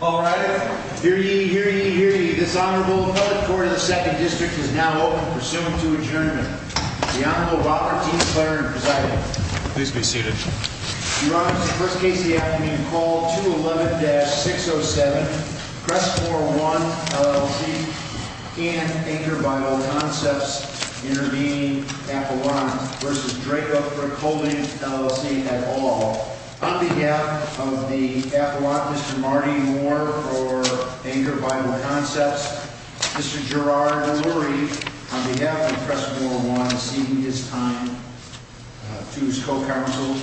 All right, hear ye, hear ye, hear ye. This Honorable Public Court of the 2nd District is now open, pursuant to adjournment. The Honorable Robert T. McLaren, presiding. Please be seated. Your Honor, this is the first case of the afternoon, called 211-607, Crestmoor One, LLC, and anchored by all concepts intervening, Avalon v. Drake Oakbrook Holdings, LLC, at all. On behalf of the Avalon, Mr. Marty Moore, for anchored by all concepts. Mr. Gerard Lurie, on behalf of Crestmoor One, ceding his time to his co-counsel.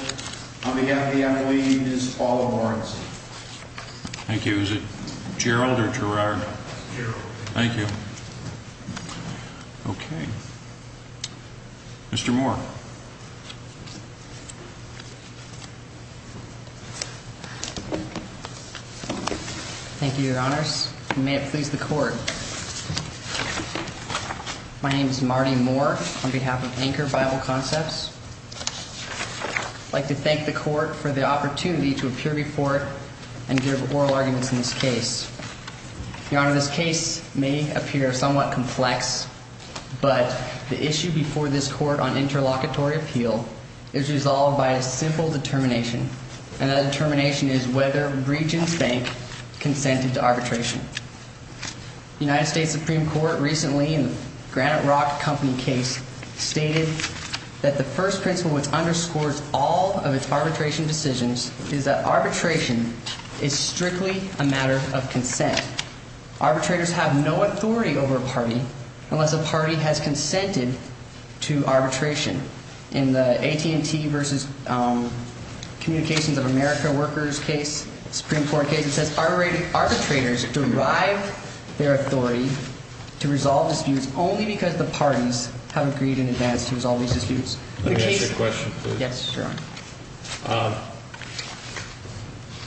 On behalf of the Avalon, Ms. Paula Lawrence. Thank you. Is it Gerald or Gerard? Gerald. Thank you. Okay. Mr. Moore. Thank you, Your Honors. May it please the Court. My name is Marty Moore, on behalf of anchored by all concepts. I'd like to thank the Court for the opportunity to appear before it and give oral arguments in this case. Your Honor, this case may appear somewhat complex, but the issue before this Court on interlocking, is resolved by a simple determination, and that determination is whether Breach and Spank consented to arbitration. The United States Supreme Court recently, in the Granite Rock Company case, stated that the first principle which underscores all of its arbitration decisions is that arbitration is strictly a matter of consent. Arbitrators have no authority over a party unless a party has consented to arbitration. In the AT&T versus Communications of America workers case, Supreme Court case, it says arbitrators derive their authority to resolve disputes only because the parties have agreed in advance to resolve these disputes. Let me ask you a question, please. Yes, Your Honor.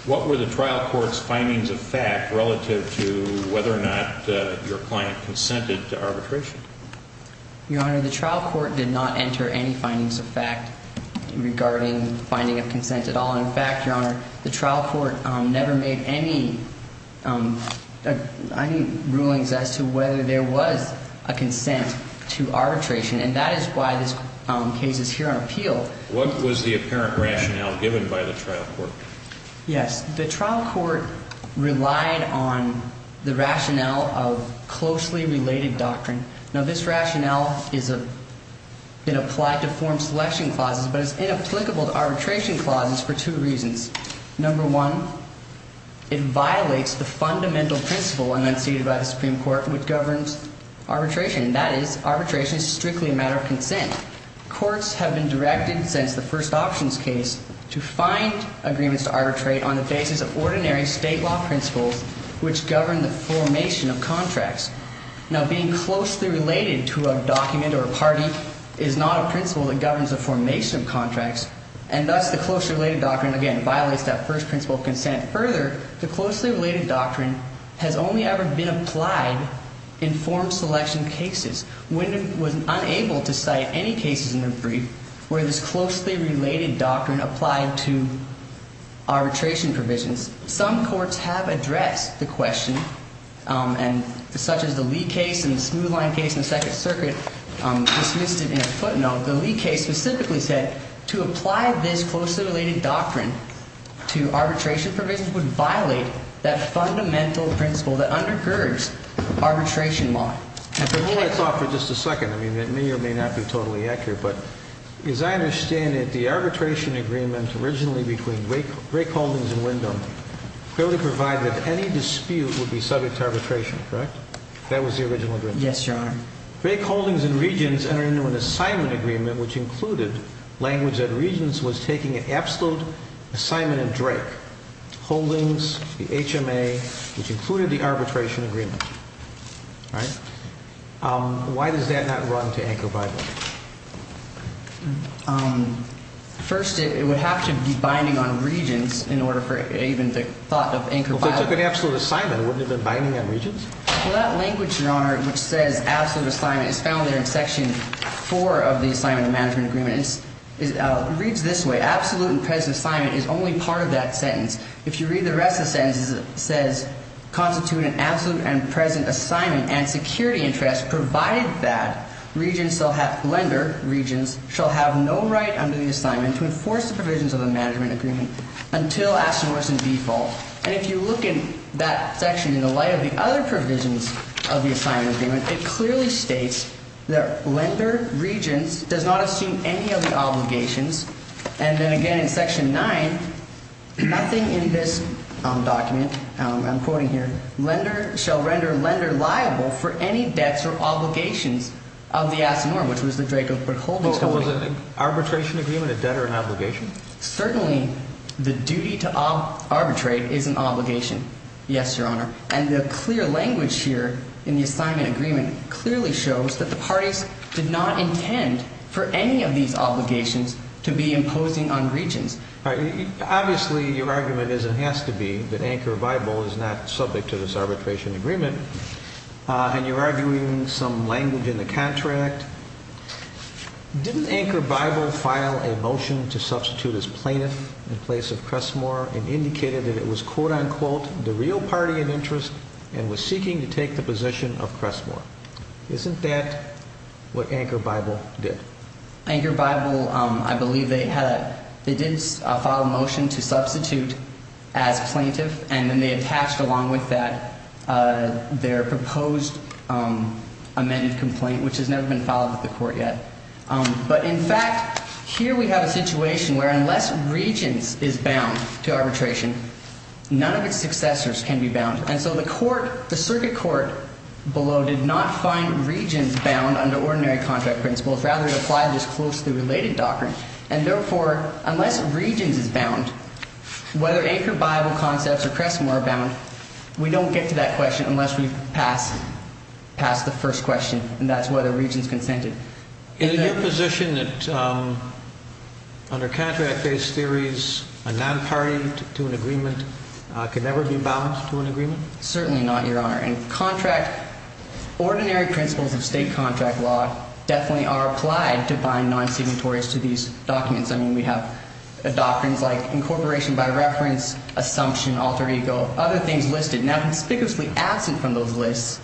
What were the trial court's findings of fact relative to whether or not your client consented to arbitration? Your Honor, the trial court did not enter any findings of fact regarding finding of consent at all. In fact, Your Honor, the trial court never made any rulings as to whether there was a consent to arbitration, and that is why this case is here on appeal. What was the apparent rationale given by the trial court? Yes. The trial court relied on the rationale of closely related doctrine. Now, this rationale has been applied to form selection clauses, but it's inapplicable to arbitration clauses for two reasons. Number one, it violates the fundamental principle enunciated by the Supreme Court which governs arbitration, courts have been directed since the first options case to find agreements to arbitrate on the basis of ordinary state law principles which govern the formation of contracts. Now, being closely related to a document or a party is not a principle that governs the formation of contracts, and thus the closely related doctrine, again, violates that first principle of consent. Further, the closely related doctrine has only ever been applied in form selection cases. Wyndham was unable to cite any cases in her brief where this closely related doctrine applied to arbitration provisions. Some courts have addressed the question, and such as the Lee case and the Smooth Line case in the Second Circuit dismissed it in a footnote. The Lee case specifically said to apply this closely related doctrine to arbitration provisions would violate that fundamental principle that undergirds arbitration law. And to hold us off for just a second, I mean, it may or may not be totally accurate, but as I understand it, the arbitration agreement originally between Drake Holdings and Wyndham clearly provided that any dispute would be subject to arbitration, correct? That was the original agreement. Yes, Your Honor. Drake Holdings and Regents entered into an assignment agreement which included language that Regents was taking an absolute assignment in Drake Holdings, the HMA, which included the arbitration agreement, right? Why does that not run to Anchor Bible? First, it would have to be binding on Regents in order for even the thought of Anchor Bible. If they took an absolute assignment, wouldn't it have been binding on Regents? Well, that language, Your Honor, which says absolute assignment is found there in Section 4 of the Assignment of Management Agreement. It reads this way. Absolute and present assignment is only part of that sentence. If you read the rest of the sentence, it says constitute an absolute and present assignment and security interest, provided that Regents shall have, lender, Regents, shall have no right under the assignment to enforce the provisions of the Management Agreement until asked and worse in default. And if you look in that section in the light of the other provisions of the Assignment Agreement, it clearly states that lender, Regents, does not assume any of the obligations. And then again in Section 9, nothing in this document, I'm quoting here, lender shall render lender liable for any debts or obligations of the Asinor, which was the Draco-Prick Holdings Company. Was it an arbitration agreement, a debt, or an obligation? Certainly, the duty to arbitrate is an obligation. Yes, Your Honor. And the clear language here in the Assignment Agreement clearly shows that the parties did not intend for any of these obligations to be imposing on Regents. Obviously, your argument is and has to be that Anchor Bible is not subject to this arbitration agreement. And you're arguing some language in the contract. Didn't Anchor Bible file a motion to substitute as plaintiff in place of Crestmore and indicated that it was, quote, unquote, the real party of interest and was seeking to take the position of Crestmore? Isn't that what Anchor Bible did? Anchor Bible, I believe they did file a motion to substitute as plaintiff, and then they attached along with that their proposed amended complaint, which has never been filed with the court yet. But in fact, here we have a situation where unless Regents is bound to arbitration, none of its successors can be bound. And so the court, the circuit court below, did not find Regents bound under ordinary contract principles. Rather, it applied this closely related doctrine. And therefore, unless Regents is bound, whether Anchor Bible concepts or Crestmore are bound, we don't get to that question unless we pass the first question, and that's whether Regents consented. Is it your position that under contract-based theories, a non-party to an agreement can never be bound to an agreement? Certainly not, Your Honor. Ordinary principles of state contract law definitely are applied to bind non-signatories to these documents. I mean, we have doctrines like incorporation by reference, assumption, alter ego, other things listed. Now, conspicuously absent from those lists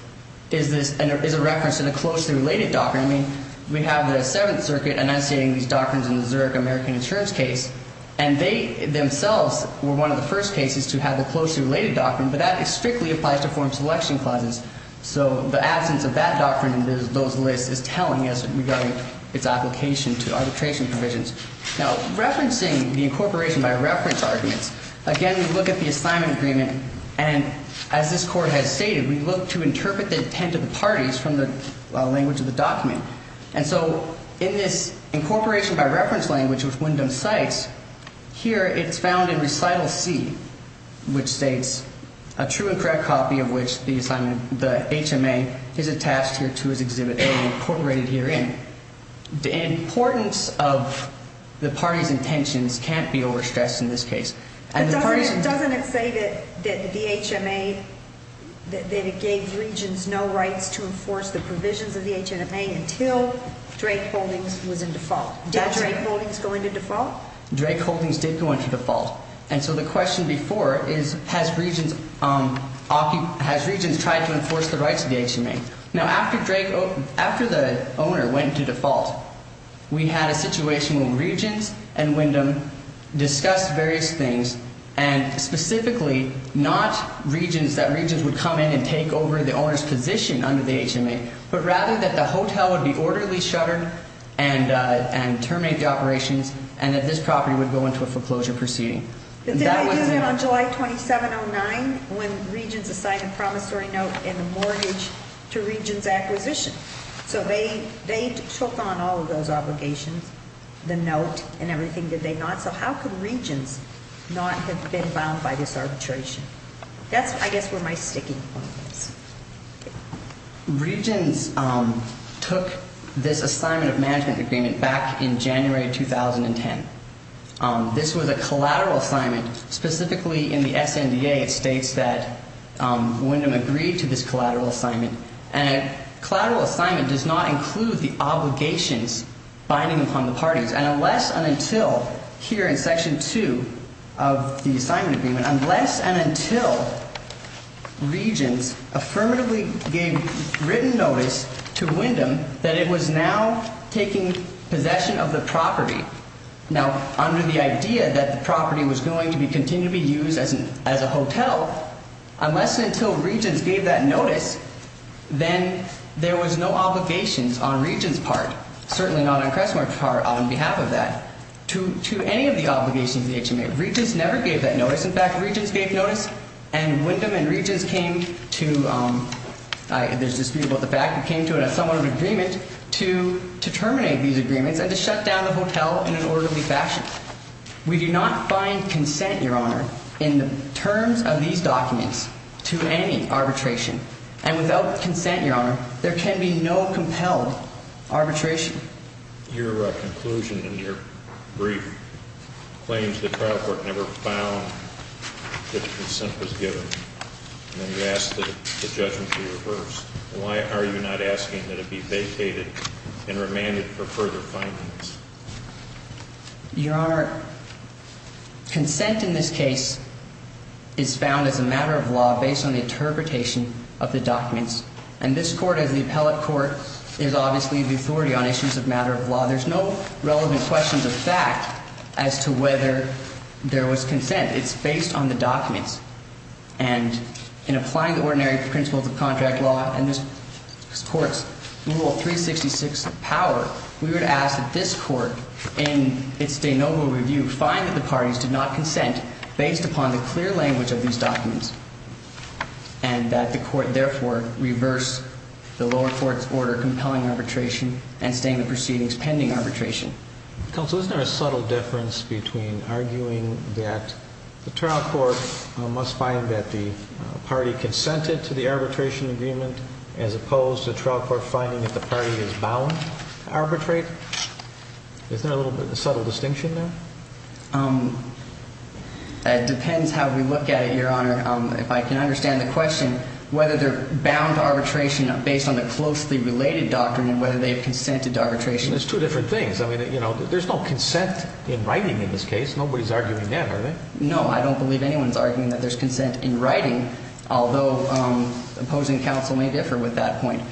is a reference to the closely related doctrine. I mean, we have the Seventh Circuit enunciating these doctrines in the Zurich American Insurance case, and they themselves were one of the first cases to have the closely related doctrine. But that strictly applies to foreign selection clauses. So the absence of that doctrine in those lists is telling us regarding its application to arbitration provisions. Now, referencing the incorporation by reference arguments, again, we look at the assignment agreement. And as this Court has stated, we look to interpret the intent of the parties from the language of the document. And so in this incorporation by reference language, which Wyndham cites, here it's found in recital C, which states a true and correct copy of which the HMA is attached here to his exhibit A incorporated herein. The importance of the parties' intentions can't be overstressed in this case. But doesn't it say that the HMA gave regents no rights to enforce the provisions of the HMA until Drake Holdings was in default? Did Drake Holdings go into default? Drake Holdings did go into default. And so the question before is, has regents tried to enforce the rights of the HMA? Now, after the owner went into default, we had a situation where regents and Wyndham discussed various things, and specifically not that regents would come in and take over the owner's position under the HMA, but rather that the hotel would be orderly shuttered and terminate the operations, and that this property would go into a foreclosure proceeding. Did they do that on July 27, 2009, when regents assigned a promissory note in the mortgage to regents' acquisition? So they took on all of those obligations, the note and everything, did they not? So how could regents not have been bound by this arbitration? That's, I guess, where my sticking point is. Regents took this assignment of management agreement back in January 2010. This was a collateral assignment. Specifically in the SNDA, it states that Wyndham agreed to this collateral assignment. And a collateral assignment does not include the obligations binding upon the parties. And unless and until here in Section 2 of the assignment agreement, unless and until regents affirmatively gave written notice to Wyndham that it was now taking possession of the property, now under the idea that the property was going to continue to be used as a hotel, unless and until regents gave that notice, then there was no obligations on regents' part, certainly not on Crestmore's part on behalf of that, to any of the obligations of the HMA. Regents never gave that notice. In fact, regents gave notice, and Wyndham and regents came to, there's dispute about the fact, came to an assignment of agreement to terminate these agreements and to shut down the hotel in an orderly fashion. We do not find consent, Your Honor, in the terms of these documents to any arbitration. And without consent, Your Honor, there can be no compelled arbitration. Your conclusion in your brief claims the trial court never found that consent was given. And then you asked that the judgment be reversed. Why are you not asking that it be vacated and remanded for further findings? Your Honor, consent in this case is found as a matter of law based on the interpretation of the documents. And this court, as the appellate court, is obviously the authority on issues of matter of law. There's no relevant question of fact as to whether there was consent. It's based on the documents. And in applying the ordinary principles of contract law and this court's rule of 366 power, we would ask that this court in its de novo review find that the parties did not consent based upon the clear language of these documents and that the court therefore reverse the lower court's order compelling arbitration and staying the proceedings pending arbitration. Counsel, isn't there a subtle difference between arguing that the trial court must find that the party consented to the arbitration agreement as opposed to the trial court finding that the party is bound to arbitrate? Is there a little bit of a subtle distinction there? It depends how we look at it, Your Honor. If I can understand the question, whether they're bound to arbitration based on the closely related doctrine and whether they've consented to arbitration. It's two different things. I mean, you know, there's no consent in writing in this case. Nobody's arguing that, are they? No, I don't believe anyone's arguing that there's consent in writing, although opposing counsel may differ with that point.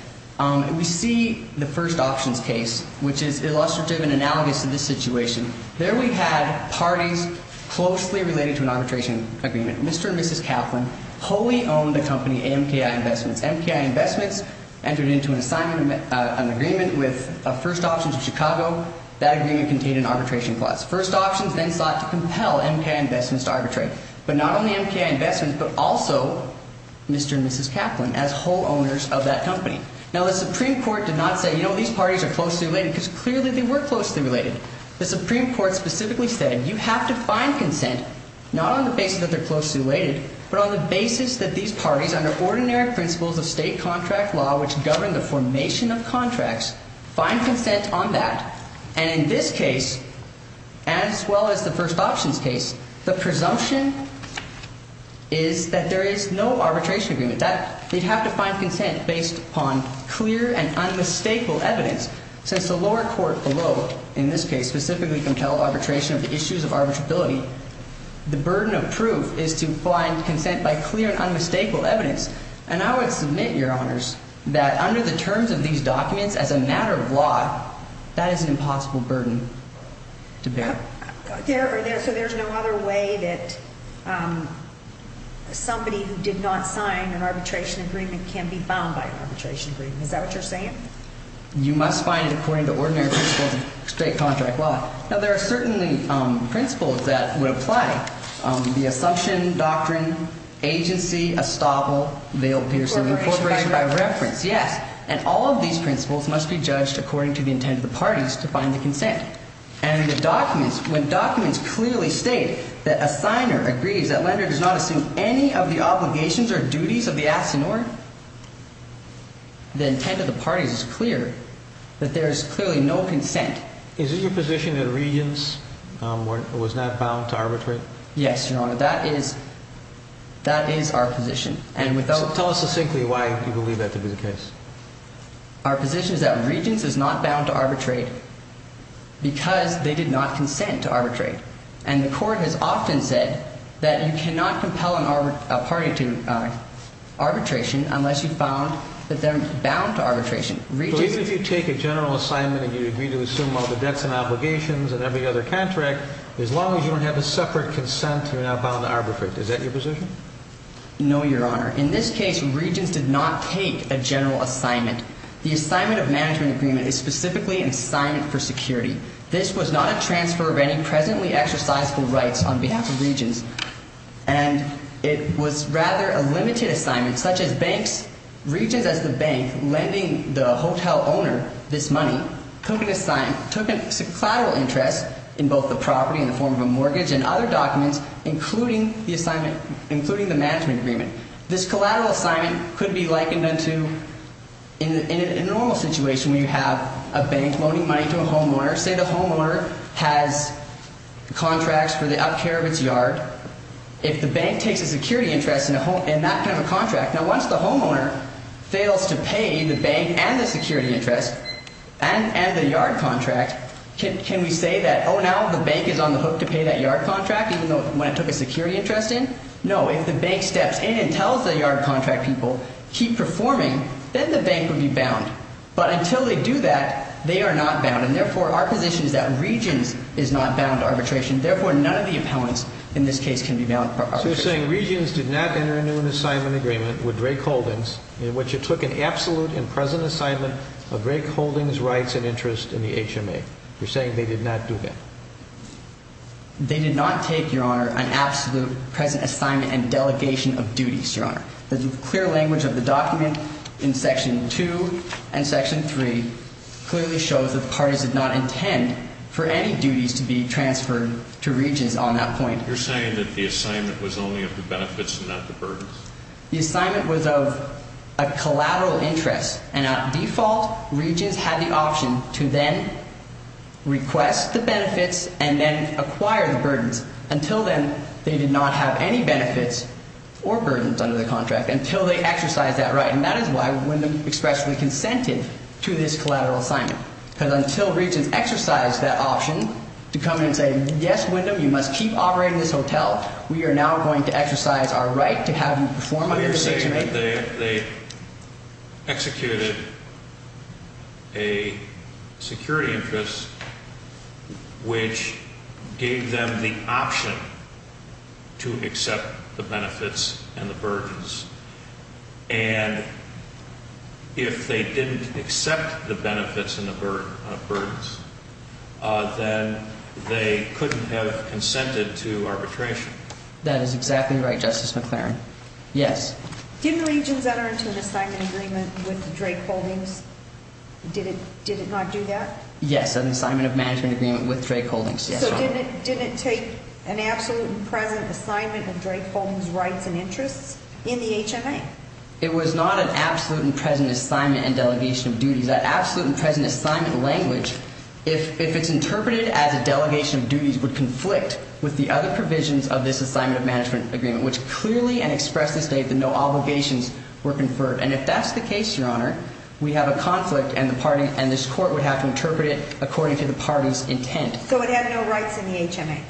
We see the first options case, which is illustrative and analogous to this situation. There we had parties closely related to an arbitration agreement. Mr. and Mrs. Kaplan wholly owned the company MKI Investments. MKI Investments entered into an agreement with First Options of Chicago. That agreement contained an arbitration clause. First Options then sought to compel MKI Investments to arbitrate. But not only MKI Investments, but also Mr. and Mrs. Kaplan as whole owners of that company. Now, the Supreme Court did not say, you know, these parties are closely related, because clearly they were closely related. The Supreme Court specifically said you have to find consent not on the basis that they're closely related, but on the basis that these parties, under ordinary principles of state contract law, which govern the formation of contracts, find consent on that. And in this case, as well as the first options case, the presumption is that there is no arbitration agreement. That they have to find consent based upon clear and unmistakable evidence. Since the lower court below, in this case, specifically compelled arbitration of the issues of arbitrability, the burden of proof is to find consent by clear and unmistakable evidence. And I would submit, Your Honors, that under the terms of these documents, as a matter of law, that is an impossible burden to bear. So there's no other way that somebody who did not sign an arbitration agreement can be bound by an arbitration agreement. Is that what you're saying? You must find it according to ordinary principles of state contract law. Now, there are certainly principles that would apply. The Assumption Doctrine, Agency, Estoppel, Vail Peterson, Corporation by Reference. Yes. And all of these principles must be judged according to the intent of the parties to find the consent. And the documents, when documents clearly state that a signer agrees that lender does not assume any of the obligations or duties of the absentee, the intent of the parties is clear that there is clearly no consent. Is it your position that Regents was not bound to arbitrate? Yes, Your Honor. That is our position. Tell us succinctly why you believe that to be the case. Our position is that Regents is not bound to arbitrate because they did not consent to arbitrate. And the Court has often said that you cannot compel a party to arbitration unless you found that they're bound to arbitration. So even if you take a general assignment and you agree to assume all the debts and obligations and every other contract, as long as you don't have a separate consent, you're not bound to arbitrate. Is that your position? No, Your Honor. In this case, Regents did not take a general assignment. The Assignment of Management Agreement is specifically an assignment for security. This was not a transfer of any presently exercisable rights on behalf of Regents. And it was rather a limited assignment, such as banks, Regents as the bank, lending the hotel owner this money, took a collateral interest in both the property in the form of a mortgage and other documents, including the management agreement. This collateral assignment could be likened to a normal situation where you have a bank loaning money to a homeowner. Say the homeowner has contracts for the up-care of its yard. If the bank takes a security interest in that kind of a contract, now once the homeowner fails to pay the bank and the security interest and the yard contract, can we say that, oh, now the bank is on the hook to pay that yard contract, even though when it took a security interest in? No, if the bank steps in and tells the yard contract people, keep performing, then the bank would be bound. But until they do that, they are not bound. And therefore, our position is that Regents is not bound to arbitration. Therefore, none of the appellants in this case can be bound for arbitration. So you're saying Regents did not enter into an assignment agreement with Drake Holdings in which it took an absolute and present assignment of Drake Holdings' rights and interest in the HMA. You're saying they did not do that. They did not take, Your Honor, an absolute present assignment and delegation of duties, Your Honor. The clear language of the document in Section 2 and Section 3 clearly shows that parties did not intend for any duties to be transferred to Regents on that point. You're saying that the assignment was only of the benefits and not the burdens? The assignment was of a collateral interest. And at default, Regents had the option to then request the benefits and then acquire the burdens. Until then, they did not have any benefits or burdens under the contract until they exercised that right. And that is why Wyndham expressly consented to this collateral assignment. Because until Regents exercised that option to come in and say, yes, Wyndham, you must keep operating this hotel, we are now going to exercise our right to have you perform your duties. You're saying that they executed a security interest which gave them the option to accept the benefits and the burdens. And if they didn't accept the benefits and the burdens, then they couldn't have consented to arbitration. That is exactly right, Justice McClaren. Yes. Didn't Regents enter into an assignment agreement with Drake Holdings? Did it not do that? Yes, an assignment of management agreement with Drake Holdings. So didn't it take an absolute and present assignment of Drake Holdings' rights and interests in the HMA? It was not an absolute and present assignment and delegation of duties. That absolute and present assignment language, if it's interpreted as a delegation of duties, would conflict with the other provisions of this assignment of management agreement, which clearly and expressly state that no obligations were conferred. And if that's the case, Your Honor, we have a conflict and this Court would have to interpret it according to the party's intent. So it had no rights in the HMA?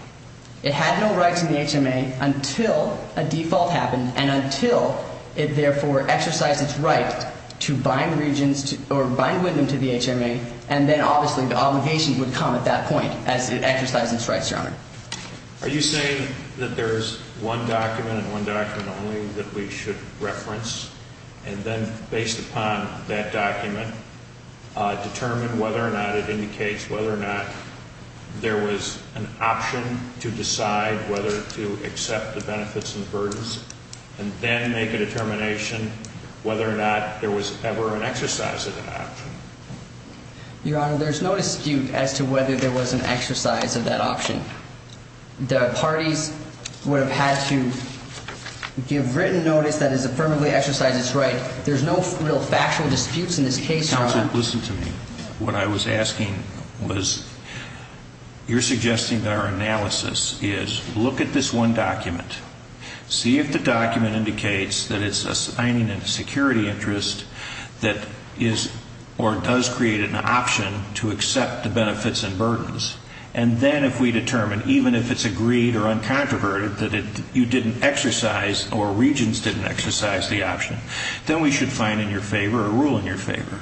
It had no rights in the HMA until a default happened and until it, therefore, exercised its right to bind Regents or bind with them to the HMA. And then, obviously, the obligations would come at that point as it exercised its rights, Your Honor. Are you saying that there's one document and one document only that we should reference and then, based upon that document, determine whether or not it indicates whether or not there was an option to decide whether to accept the benefits and burdens and then make a determination whether or not there was ever an exercise of that option? Your Honor, there's no dispute as to whether there was an exercise of that option. The parties would have had to give written notice that it's affirmatively exercised its right. There's no real factual disputes in this case, Your Honor. Counsel, listen to me. What I was asking was, you're suggesting that our analysis is, look at this one document. See if the document indicates that it's assigning a security interest that is or does create an option to accept the benefits and burdens. And then, if we determine, even if it's agreed or uncontroverted that you didn't exercise or Regents didn't exercise the option, then we should find in your favor or rule in your favor.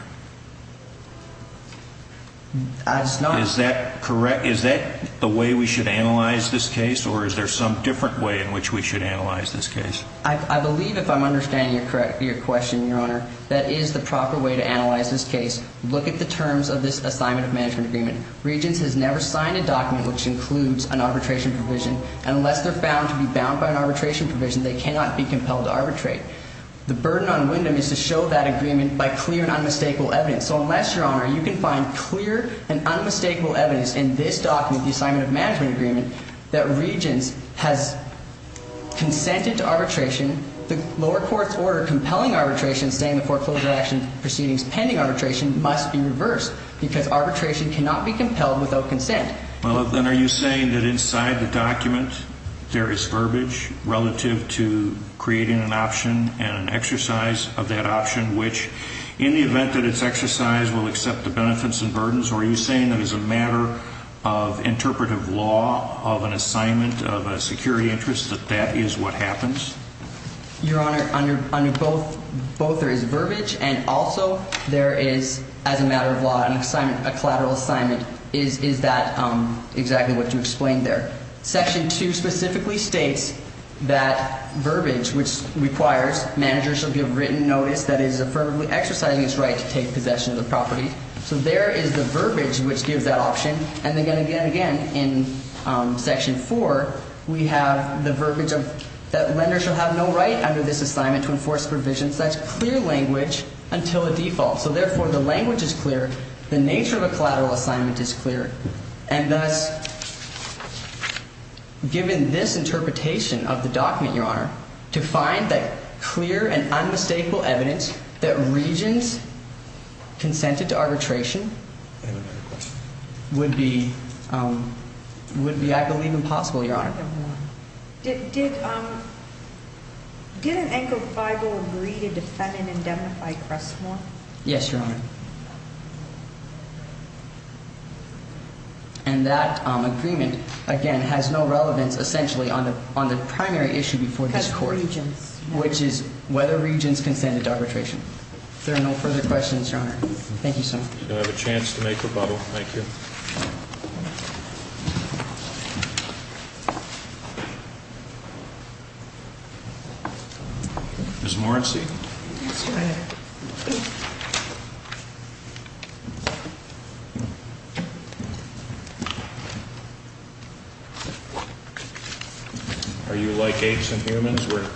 It's not. Is that correct? Is that the way we should analyze this case, or is there some different way in which we should analyze this case? I believe, if I'm understanding your question, Your Honor, that is the proper way to analyze this case. Look at the terms of this assignment of management agreement. Regents has never signed a document which includes an arbitration provision. Unless they're found to be bound by an arbitration provision, they cannot be compelled to arbitrate. The burden on Wyndham is to show that agreement by clear and unmistakable evidence. So, unless, Your Honor, you can find clear and unmistakable evidence in this document, the assignment of management agreement, that Regents has consented to arbitration, the lower court's order compelling arbitration, saying the foreclosure action proceedings pending arbitration must be reversed because arbitration cannot be compelled without consent. Well, then are you saying that inside the document there is verbiage relative to creating an option and an exercise of that option, which, in the event that it's exercised, will accept the benefits and burdens, or are you saying that as a matter of interpretive law of an assignment of a security interest that that is what happens? Your Honor, under both there is verbiage and also there is, as a matter of law, an assignment, a collateral assignment. Is that exactly what you explained there? Section 2 specifically states that verbiage, which requires managers to give written notice that is affirmatively exercising its right to take possession of the property. So there is the verbiage which gives that option. And again, again, again, in Section 4, we have the verbiage that lenders shall have no right under this assignment to enforce provisions. That's clear language until a default. So, therefore, the language is clear. The nature of a collateral assignment is clear. And, thus, given this interpretation of the document, Your Honor, to find that clear and unmistakable evidence that regions consented to arbitration would be, I believe, impossible, Your Honor. Did Ankel Feigl agree to defend and indemnify Crestmore? Yes, Your Honor. And that agreement, again, has no relevance, essentially, on the primary issue before this Court. That's regions. Which is whether regions consented to arbitration. If there are no further questions, Your Honor. Thank you, sir. You have a chance to make rebuttal. Thank you. Ms. Moritz. Yes, Your Honor. Are you like apes and humans? We're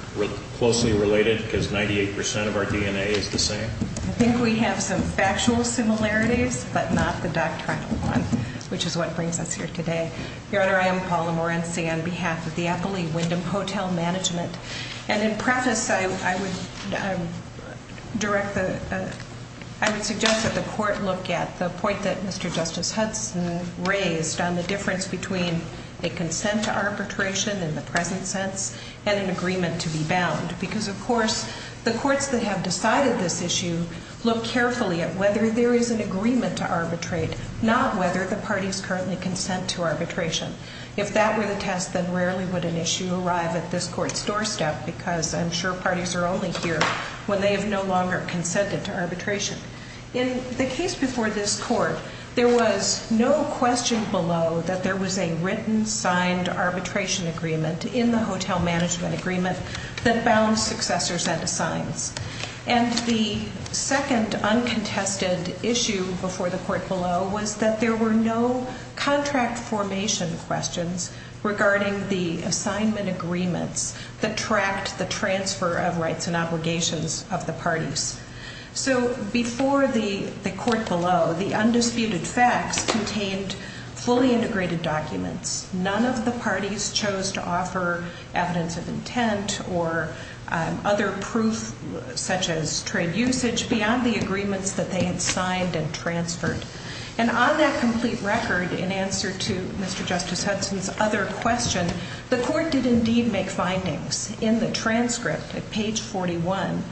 closely related because 98% of our DNA is the same? I think we have some factual similarities but not the doctrinal one, which is what brings us here today. Your Honor, I am Paula Moritz on behalf of the Applee Windham Hotel Management. I would suggest that the Court look at the point that Mr. Justice Hudson raised on the difference between a consent to arbitration in the present sense and an agreement to be bound. Because, of course, the courts that have decided this issue look carefully at whether there is an agreement to arbitrate, not whether the parties currently consent to arbitration. If that were the test, then rarely would an issue arrive at this Court's doorstep because I'm sure parties are only here when they have no longer consented to arbitration. In the case before this Court, there was no question below that there was a written, signed arbitration agreement in the hotel management agreement that bound successors and assigns. And the second uncontested issue before the Court below was that there were no contract formation questions regarding the assignment agreements that tracked the transfer of rights and obligations of the parties. So before the Court below, the undisputed facts contained fully integrated documents. None of the parties chose to offer evidence of intent or other proof such as trade usage beyond the agreements that they had signed and transferred. And on that complete record, in answer to Mr. Justice Hudson's other question, the Court did indeed make findings. In the transcript at page 41,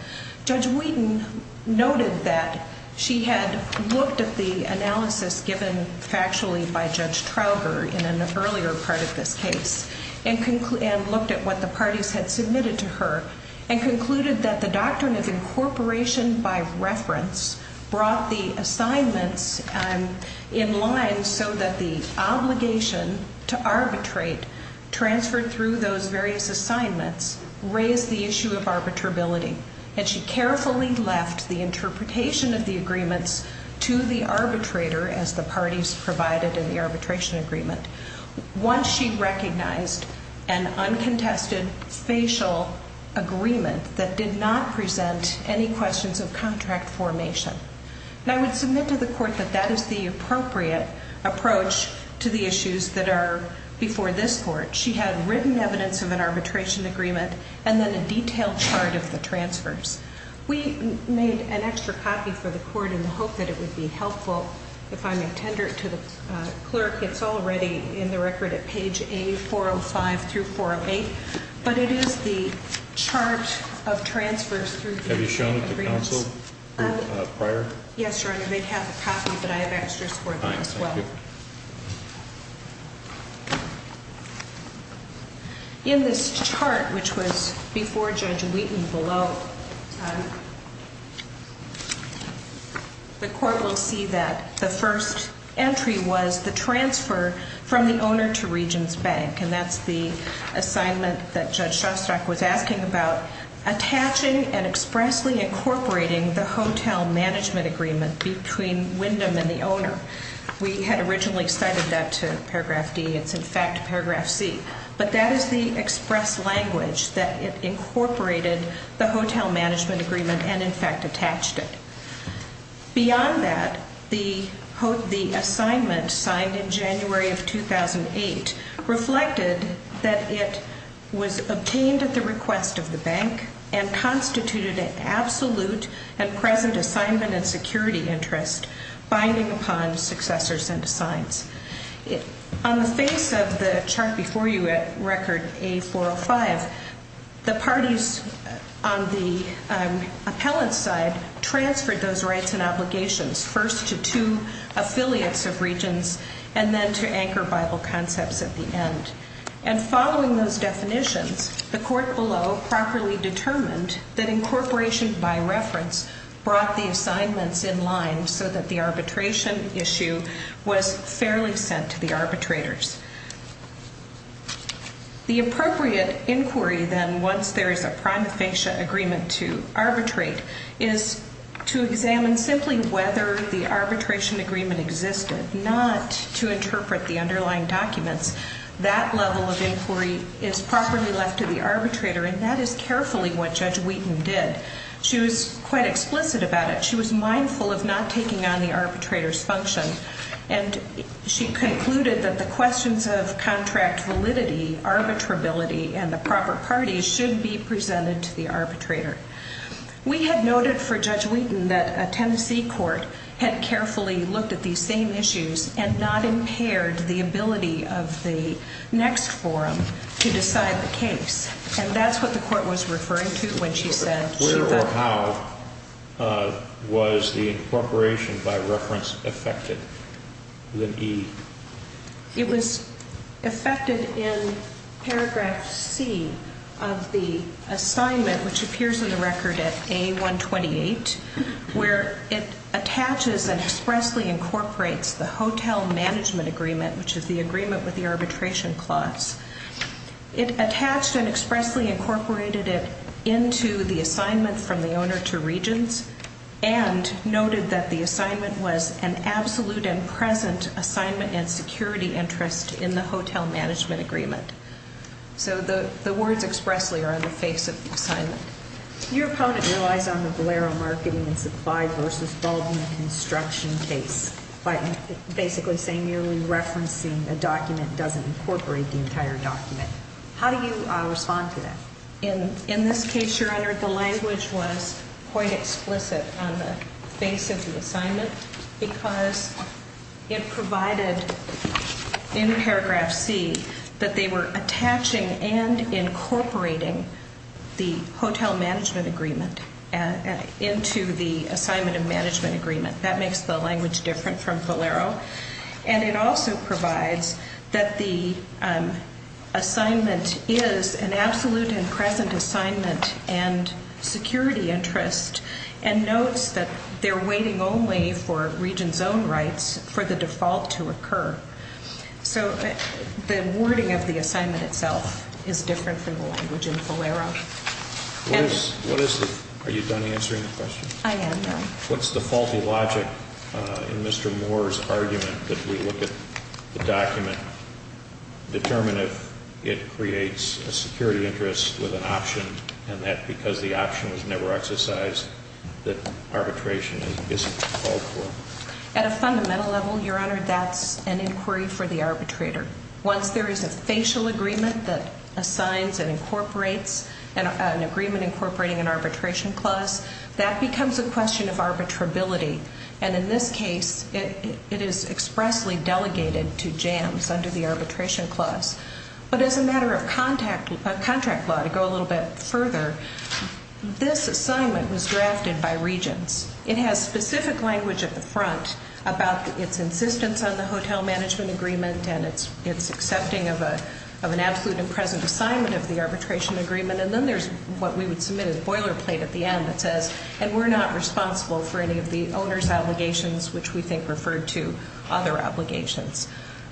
Judge Wheaton noted that she had looked at the analysis given factually by Judge Trauger in an earlier part of this case and looked at what the parties had submitted to her raised the issue of arbitrability, and she carefully left the interpretation of the agreements to the arbitrator as the parties provided in the arbitration agreement. Once she recognized an uncontested facial agreement that did not present any questions of contract formation. And I would submit to the Court that that is the appropriate approach to the issues that are before this Court. She had written evidence of an arbitration agreement and then a detailed chart of the transfers. We made an extra copy for the Court in the hope that it would be helpful if I may tender it to the clerk. It's already in the record at page A405 through 408, but it is the chart of transfers through the agreements. In this chart, which was before Judge Wheaton below, the Court will see that the first entry was the transfer from the owner to Regents Bank. And that's the assignment that Judge Shostak was asking about, attaching and expressly incorporating the hotel management agreement between Wyndham and the owner. We had originally cited that to paragraph D. It's, in fact, paragraph C. But that is the express language that it incorporated the hotel management agreement and, in fact, attached it. Beyond that, the assignment signed in January of 2008 reflected that it was obtained at the request of the bank and constituted an absolute and present assignment and security interest binding upon successors and assigns. On the face of the chart before you at Record A-405, the parties on the appellant's side transferred those rights and obligations, first to two affiliates of Regents and then to Anchor Bible Concepts at the end. And following those definitions, the Court below properly determined that incorporation by reference brought the assignments in line so that the arbitration issue was fairly sent to the arbitrators. The appropriate inquiry then, once there is a prima facie agreement to arbitrate, is to examine simply whether the arbitration agreement existed, not to interpret the underlying documents. That level of inquiry is properly left to the arbitrator, and that is carefully what Judge Wheaton did. She was quite explicit about it. She was mindful of not taking on the arbitrator's function. And she concluded that the questions of contract validity, arbitrability, and the proper parties should be presented to the arbitrator. We had noted for Judge Wheaton that a Tennessee court had carefully looked at these same issues and not impaired the ability of the next forum to decide the case. And that's what the court was referring to when she said she thought... And then E. It was affected in paragraph C of the assignment, which appears in the record at A128, where it attaches and expressly incorporates the hotel management agreement, which is the agreement with the arbitration clause. It attached and expressly incorporated it into the assignment from the owner to regents and noted that the assignment was an absolute and present assignment and security interest in the hotel management agreement. So the words expressly are on the face of the assignment. Your opponent relies on the Valero marketing and supply versus Baldwin construction case by basically saying you're referencing a document doesn't incorporate the entire document. How do you respond to that? In this case, Your Honor, the language was quite explicit on the face of the assignment because it provided in paragraph C that they were attaching and incorporating the hotel management agreement into the assignment of management agreement. That makes the language different from Valero. And it also provides that the assignment is an absolute and present assignment and security interest and notes that they're waiting only for regions own rights for the default to occur. So the wording of the assignment itself is different from the language in Valero. What is it? Are you done answering the question? I am done. What's the faulty logic in Mr. Moore's argument that we look at the document, determine if it creates a security interest with an option and that because the option was never exercised that arbitration isn't called for? At a fundamental level, Your Honor, that's an inquiry for the arbitrator. Once there is a facial agreement that assigns and incorporates an agreement incorporating an arbitration clause, that becomes a question of arbitrability. And in this case, it is expressly delegated to Jams under the arbitration clause. But as a matter of contract law, to go a little bit further, this assignment was drafted by regions. It has specific language at the front about its insistence on the hotel management agreement and its accepting of an absolute and present assignment of the arbitration agreement. And then there's what we would submit as a boilerplate at the end that says, and we're not responsible for any of the owner's obligations, which we think referred to other obligations.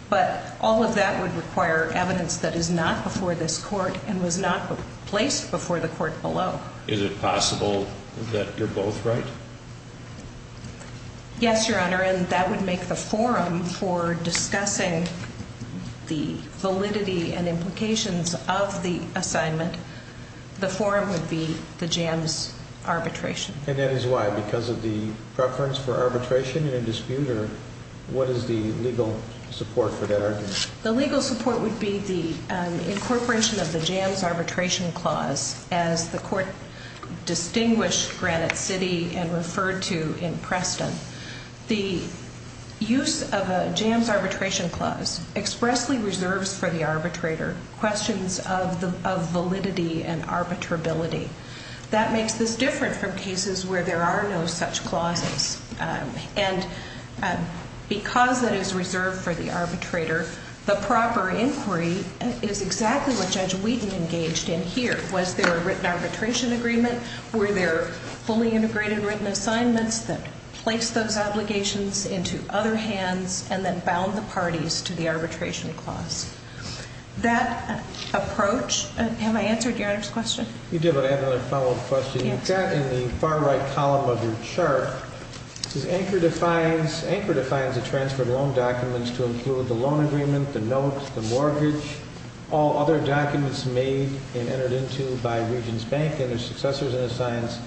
But all of that would require evidence that is not before this court and was not placed before the court below. Is it possible that you're both right? Yes, Your Honor, and that would make the forum for discussing the validity and implications of the assignment. The forum would be the Jams arbitration. And that is why, because of the preference for arbitration in a dispute, or what is the legal support for that argument? The legal support would be the incorporation of the Jams arbitration clause, as the court distinguished Granite City and referred to in Preston. The use of a Jams arbitration clause expressly reserves for the arbitrator questions of validity and arbitrability. That makes this different from cases where there are no such clauses. And because that is reserved for the arbitrator, the proper inquiry is exactly what Judge Wheaton engaged in here. Was there a written arbitration agreement? Were there fully integrated written assignments that placed those obligations into other hands and then bound the parties to the arbitration clause? That approach, have I answered Your Honor's question? You did, but I have another follow-up question. In the far right column of your chart, it says, Anchor defines the transferred loan documents to include the loan agreement, the note, the mortgage, all other documents made and entered into by Regents Bank and their successors in the science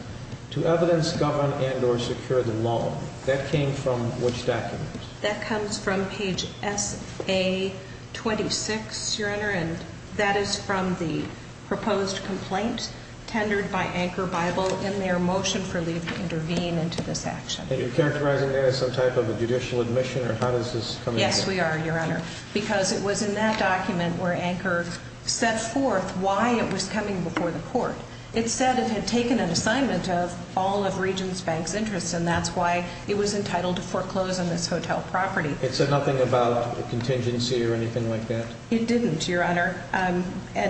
to evidence, govern, and or secure the loan. That came from which documents? That comes from page S.A. 26, Your Honor, and that is from the proposed complaint tendered by Anchor Bible in their motion for leave to intervene into this action. And you're characterizing that as some type of a judicial admission, or how does this come into play? Yes, we are, Your Honor, because it was in that document where Anchor set forth why it was coming before the court. It said it had taken an assignment of all of Regents Bank's interests, and that's why it was entitled to foreclose on this hotel property. It said nothing about contingency or anything like that? It didn't, Your Honor, and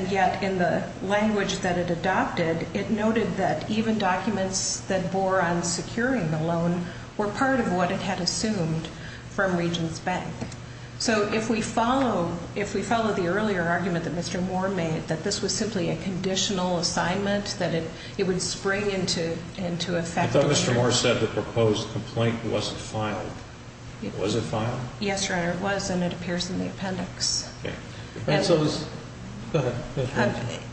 yet in the language that it adopted, it noted that even documents that bore on securing the loan were part of what it had assumed from Regents Bank. So if we follow the earlier argument that Mr. Moore made, that this was simply a conditional assignment, that it would spring into effect... I thought Mr. Moore said the proposed complaint wasn't filed. Was it filed? Yes, Your Honor, it was, and it appears in the appendix. Okay.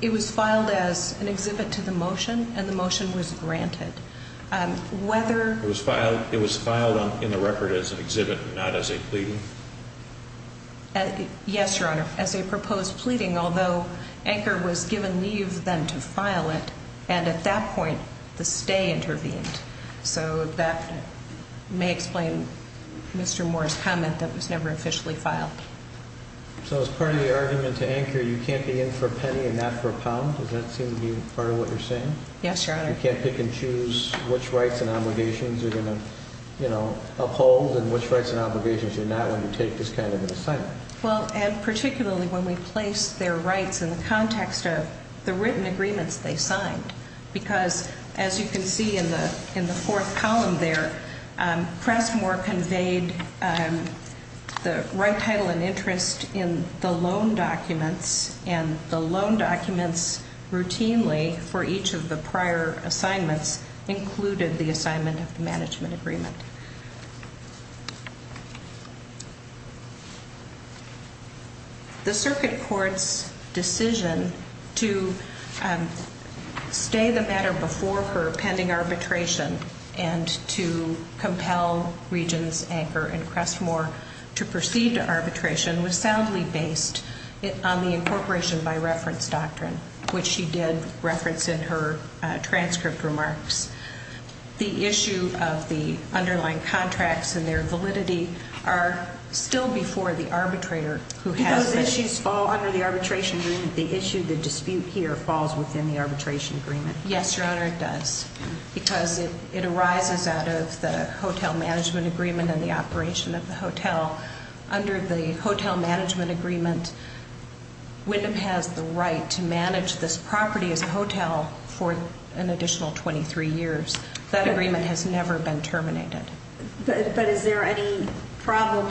It was filed as an exhibit to the motion, and the motion was granted. Whether... It was filed in the record as an exhibit, not as a pleading? Yes, Your Honor, as a proposed pleading, although Anchor was given leave then to file it, and at that point, the stay intervened. So that may explain Mr. Moore's comment that it was never officially filed. So as part of the argument to Anchor, you can't be in for a penny and not for a pound? Does that seem to be part of what you're saying? Yes, Your Honor. You can't pick and choose which rights and obligations you're going to uphold and which rights and obligations you're not when you take this kind of an assignment? Well, and particularly when we place their rights in the context of the written agreements they signed, because as you can see in the fourth column there, the right title and interest in the loan documents and the loan documents routinely for each of the prior assignments included the assignment of the management agreement. The circuit court's decision to stay the matter before her pending arbitration and to compel Regents Anchor and Crestmore to proceed to arbitration was soundly based on the incorporation by reference doctrine, which she did reference in her transcript remarks. The issue of the underlying contracts and their validity are still before the arbitrator who has them. Those issues fall under the arbitration agreement. The issue, the dispute here, falls within the arbitration agreement. Yes, Your Honor, it does, because it arises out of the hotel management agreement and the operation of the hotel. Under the hotel management agreement, Wyndham has the right to manage this property as a hotel for an additional 23 years. That agreement has never been terminated. But is there any problem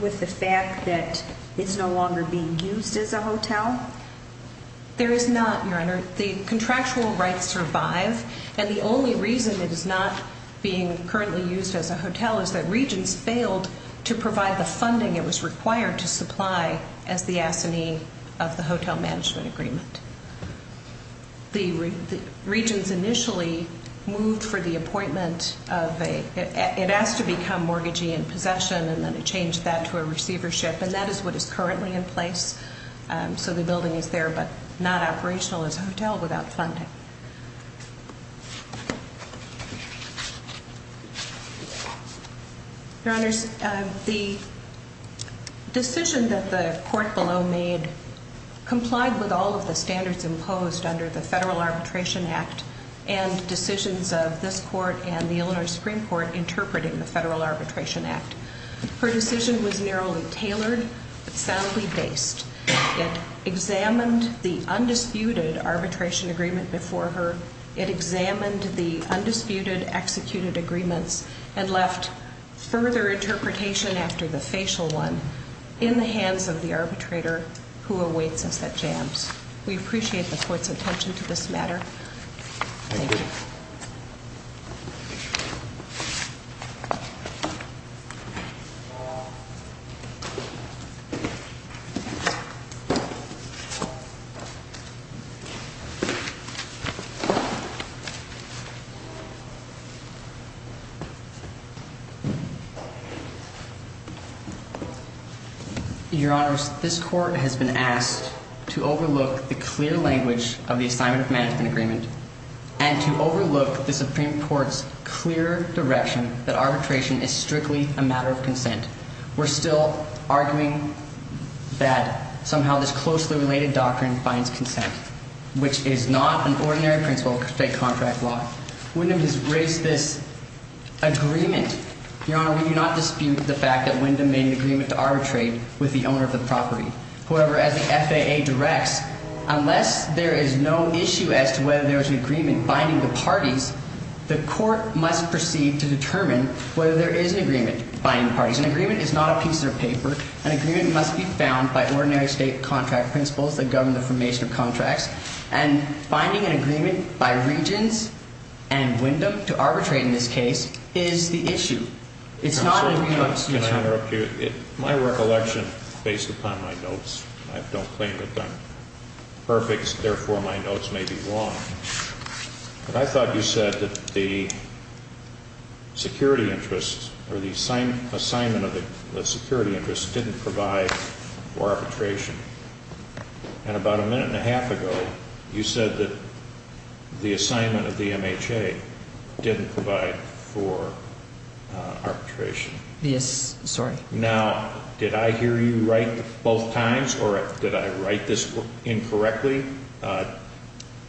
with the fact that it's no longer being used as a hotel? There is not, Your Honor. The contractual rights survive, and the only reason it is not being currently used as a hotel is that Regents failed to provide the funding it was required to supply as the assignee of the hotel management agreement. The Regents initially moved for the appointment of a, it has to become mortgagee in possession, and then it changed that to a receivership, and that is what is currently in place. So the building is there, but not operational as a hotel without funding. Your Honor, the decision that the court below made complied with all of the standards imposed under the Federal Arbitration Act and decisions of this court and the Illinois Supreme Court interpreting the Federal Arbitration Act. Her decision was narrowly tailored, soundly based. It examined the undisputed arbitration agreement before her. It examined the undisputed executed agreements and left further interpretation after the facial one in the hands of the arbitrator who awaits us at jams. We appreciate the court's attention to this matter. Thank you. Your Honor, this court has been asked to overlook the clear language of the assignment of management agreement and to overlook the Supreme Court's clear direction that arbitration is strictly a matter of law. We're still arguing that somehow this closely related doctrine finds consent, which is not an ordinary principle of state contract law. Wendham has raised this agreement. Your Honor, we do not dispute the fact that Wendham made an agreement to arbitrate with the owner of the property. However, as the FAA directs, unless there is no issue as to whether there is an agreement binding the parties, the court must proceed to determine whether there is an agreement binding the parties. In other words, an agreement is not a piece of paper. An agreement must be found by ordinary state contract principles that govern the formation of contracts. And finding an agreement by regions and Wendham to arbitrate in this case is the issue. My recollection, based upon my notes, I don't claim that they're perfect, therefore my notes may be wrong, but I thought you said that the security interest or the assignment of the security interest didn't provide for arbitration. And about a minute and a half ago, you said that the assignment of the MHA didn't provide for arbitration. Yes, sorry. Now, did I hear you right both times or did I write this incorrectly?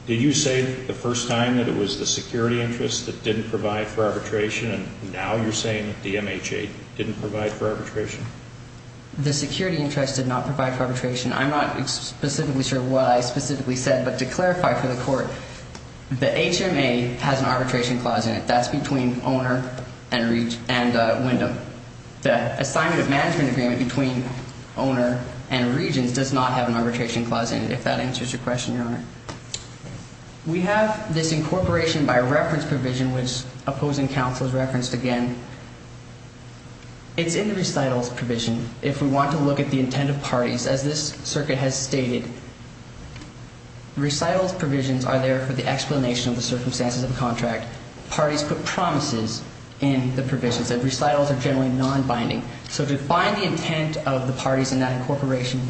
Did you say the first time that it was the security interest that didn't provide for arbitration, and now you're saying that the MHA didn't provide for arbitration? The security interest did not provide for arbitration. I'm not specifically sure what I specifically said, but to clarify for the court, the HMA has an arbitration clause in it. That's between owner and Wendham. The assignment of management agreement between owner and regions does not have an arbitration clause in it, if that answers your question, Your Honor. We have this incorporation by reference provision, which opposing counsel has referenced again. It's in the recitals provision. If we want to look at the intent of parties, as this circuit has stated, recitals provisions are there for the explanation of the circumstances of a contract. Parties put promises in the provisions. The recitals are generally nonbinding. So to find the intent of the parties in that incorporation,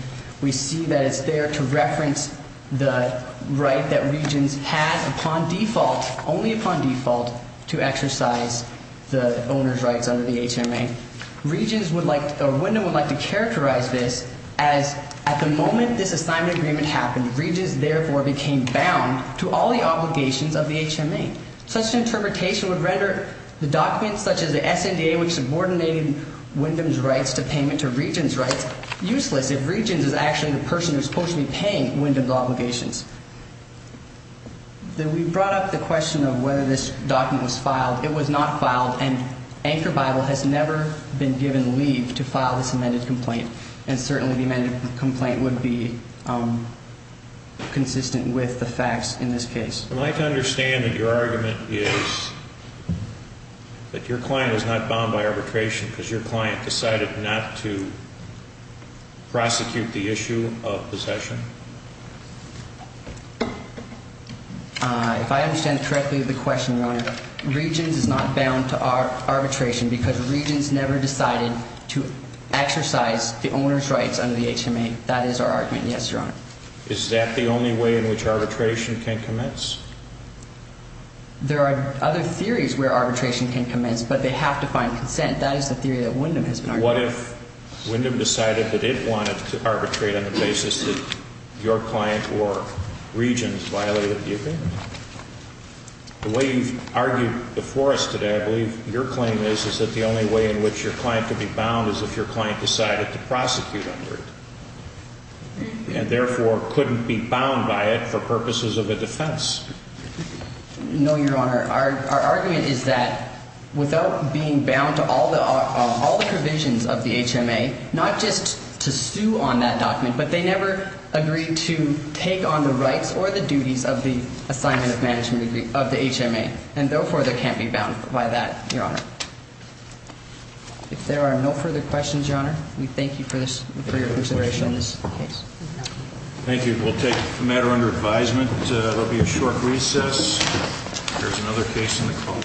we see that it's there to reference the right that regions had upon default, only upon default, to exercise the owner's rights under the HMA. Wendham would like to characterize this as at the moment this assignment agreement happened, regions therefore became bound to all the obligations of the HMA. Such interpretation would render the documents such as the SNDA, which subordinated Wendham's rights to payment to regions' rights, useless if regions is actually the person who's supposed to be paying Wendham's obligations. Then we brought up the question of whether this document was filed. It was not filed, and Anchor Bible has never been given leave to file this amended complaint, and certainly the amended complaint would be consistent with the facts in this case. I'd like to understand that your argument is that your client was not bound by arbitration because your client decided not to prosecute the issue of possession. If I understand correctly of the question, Your Honor, regions is not bound to arbitration because regions never decided to exercise the owner's rights under the HMA. That is our argument, yes, Your Honor. Is that the only way in which arbitration can commence? There are other theories where arbitration can commence, but they have to find consent. That is the theory that Wendham has been arguing. What if Wendham decided that it wanted to arbitrate on the basis that your client or regions violated the agreement? The way you've argued before us today, I believe, your claim is, is that the only way in which your client could be bound is if your client decided to prosecute under it. And, therefore, couldn't be bound by it for purposes of a defense. No, Your Honor. Our argument is that without being bound to all the provisions of the HMA, not just to sue on that document, but they never agreed to take on the rights or the duties of the assignment of management of the HMA. And, therefore, they can't be bound by that, Your Honor. If there are no further questions, Your Honor, we thank you for your consideration in this case. Thank you. We'll take the matter under advisement. There will be a short recess. There's another case in the call.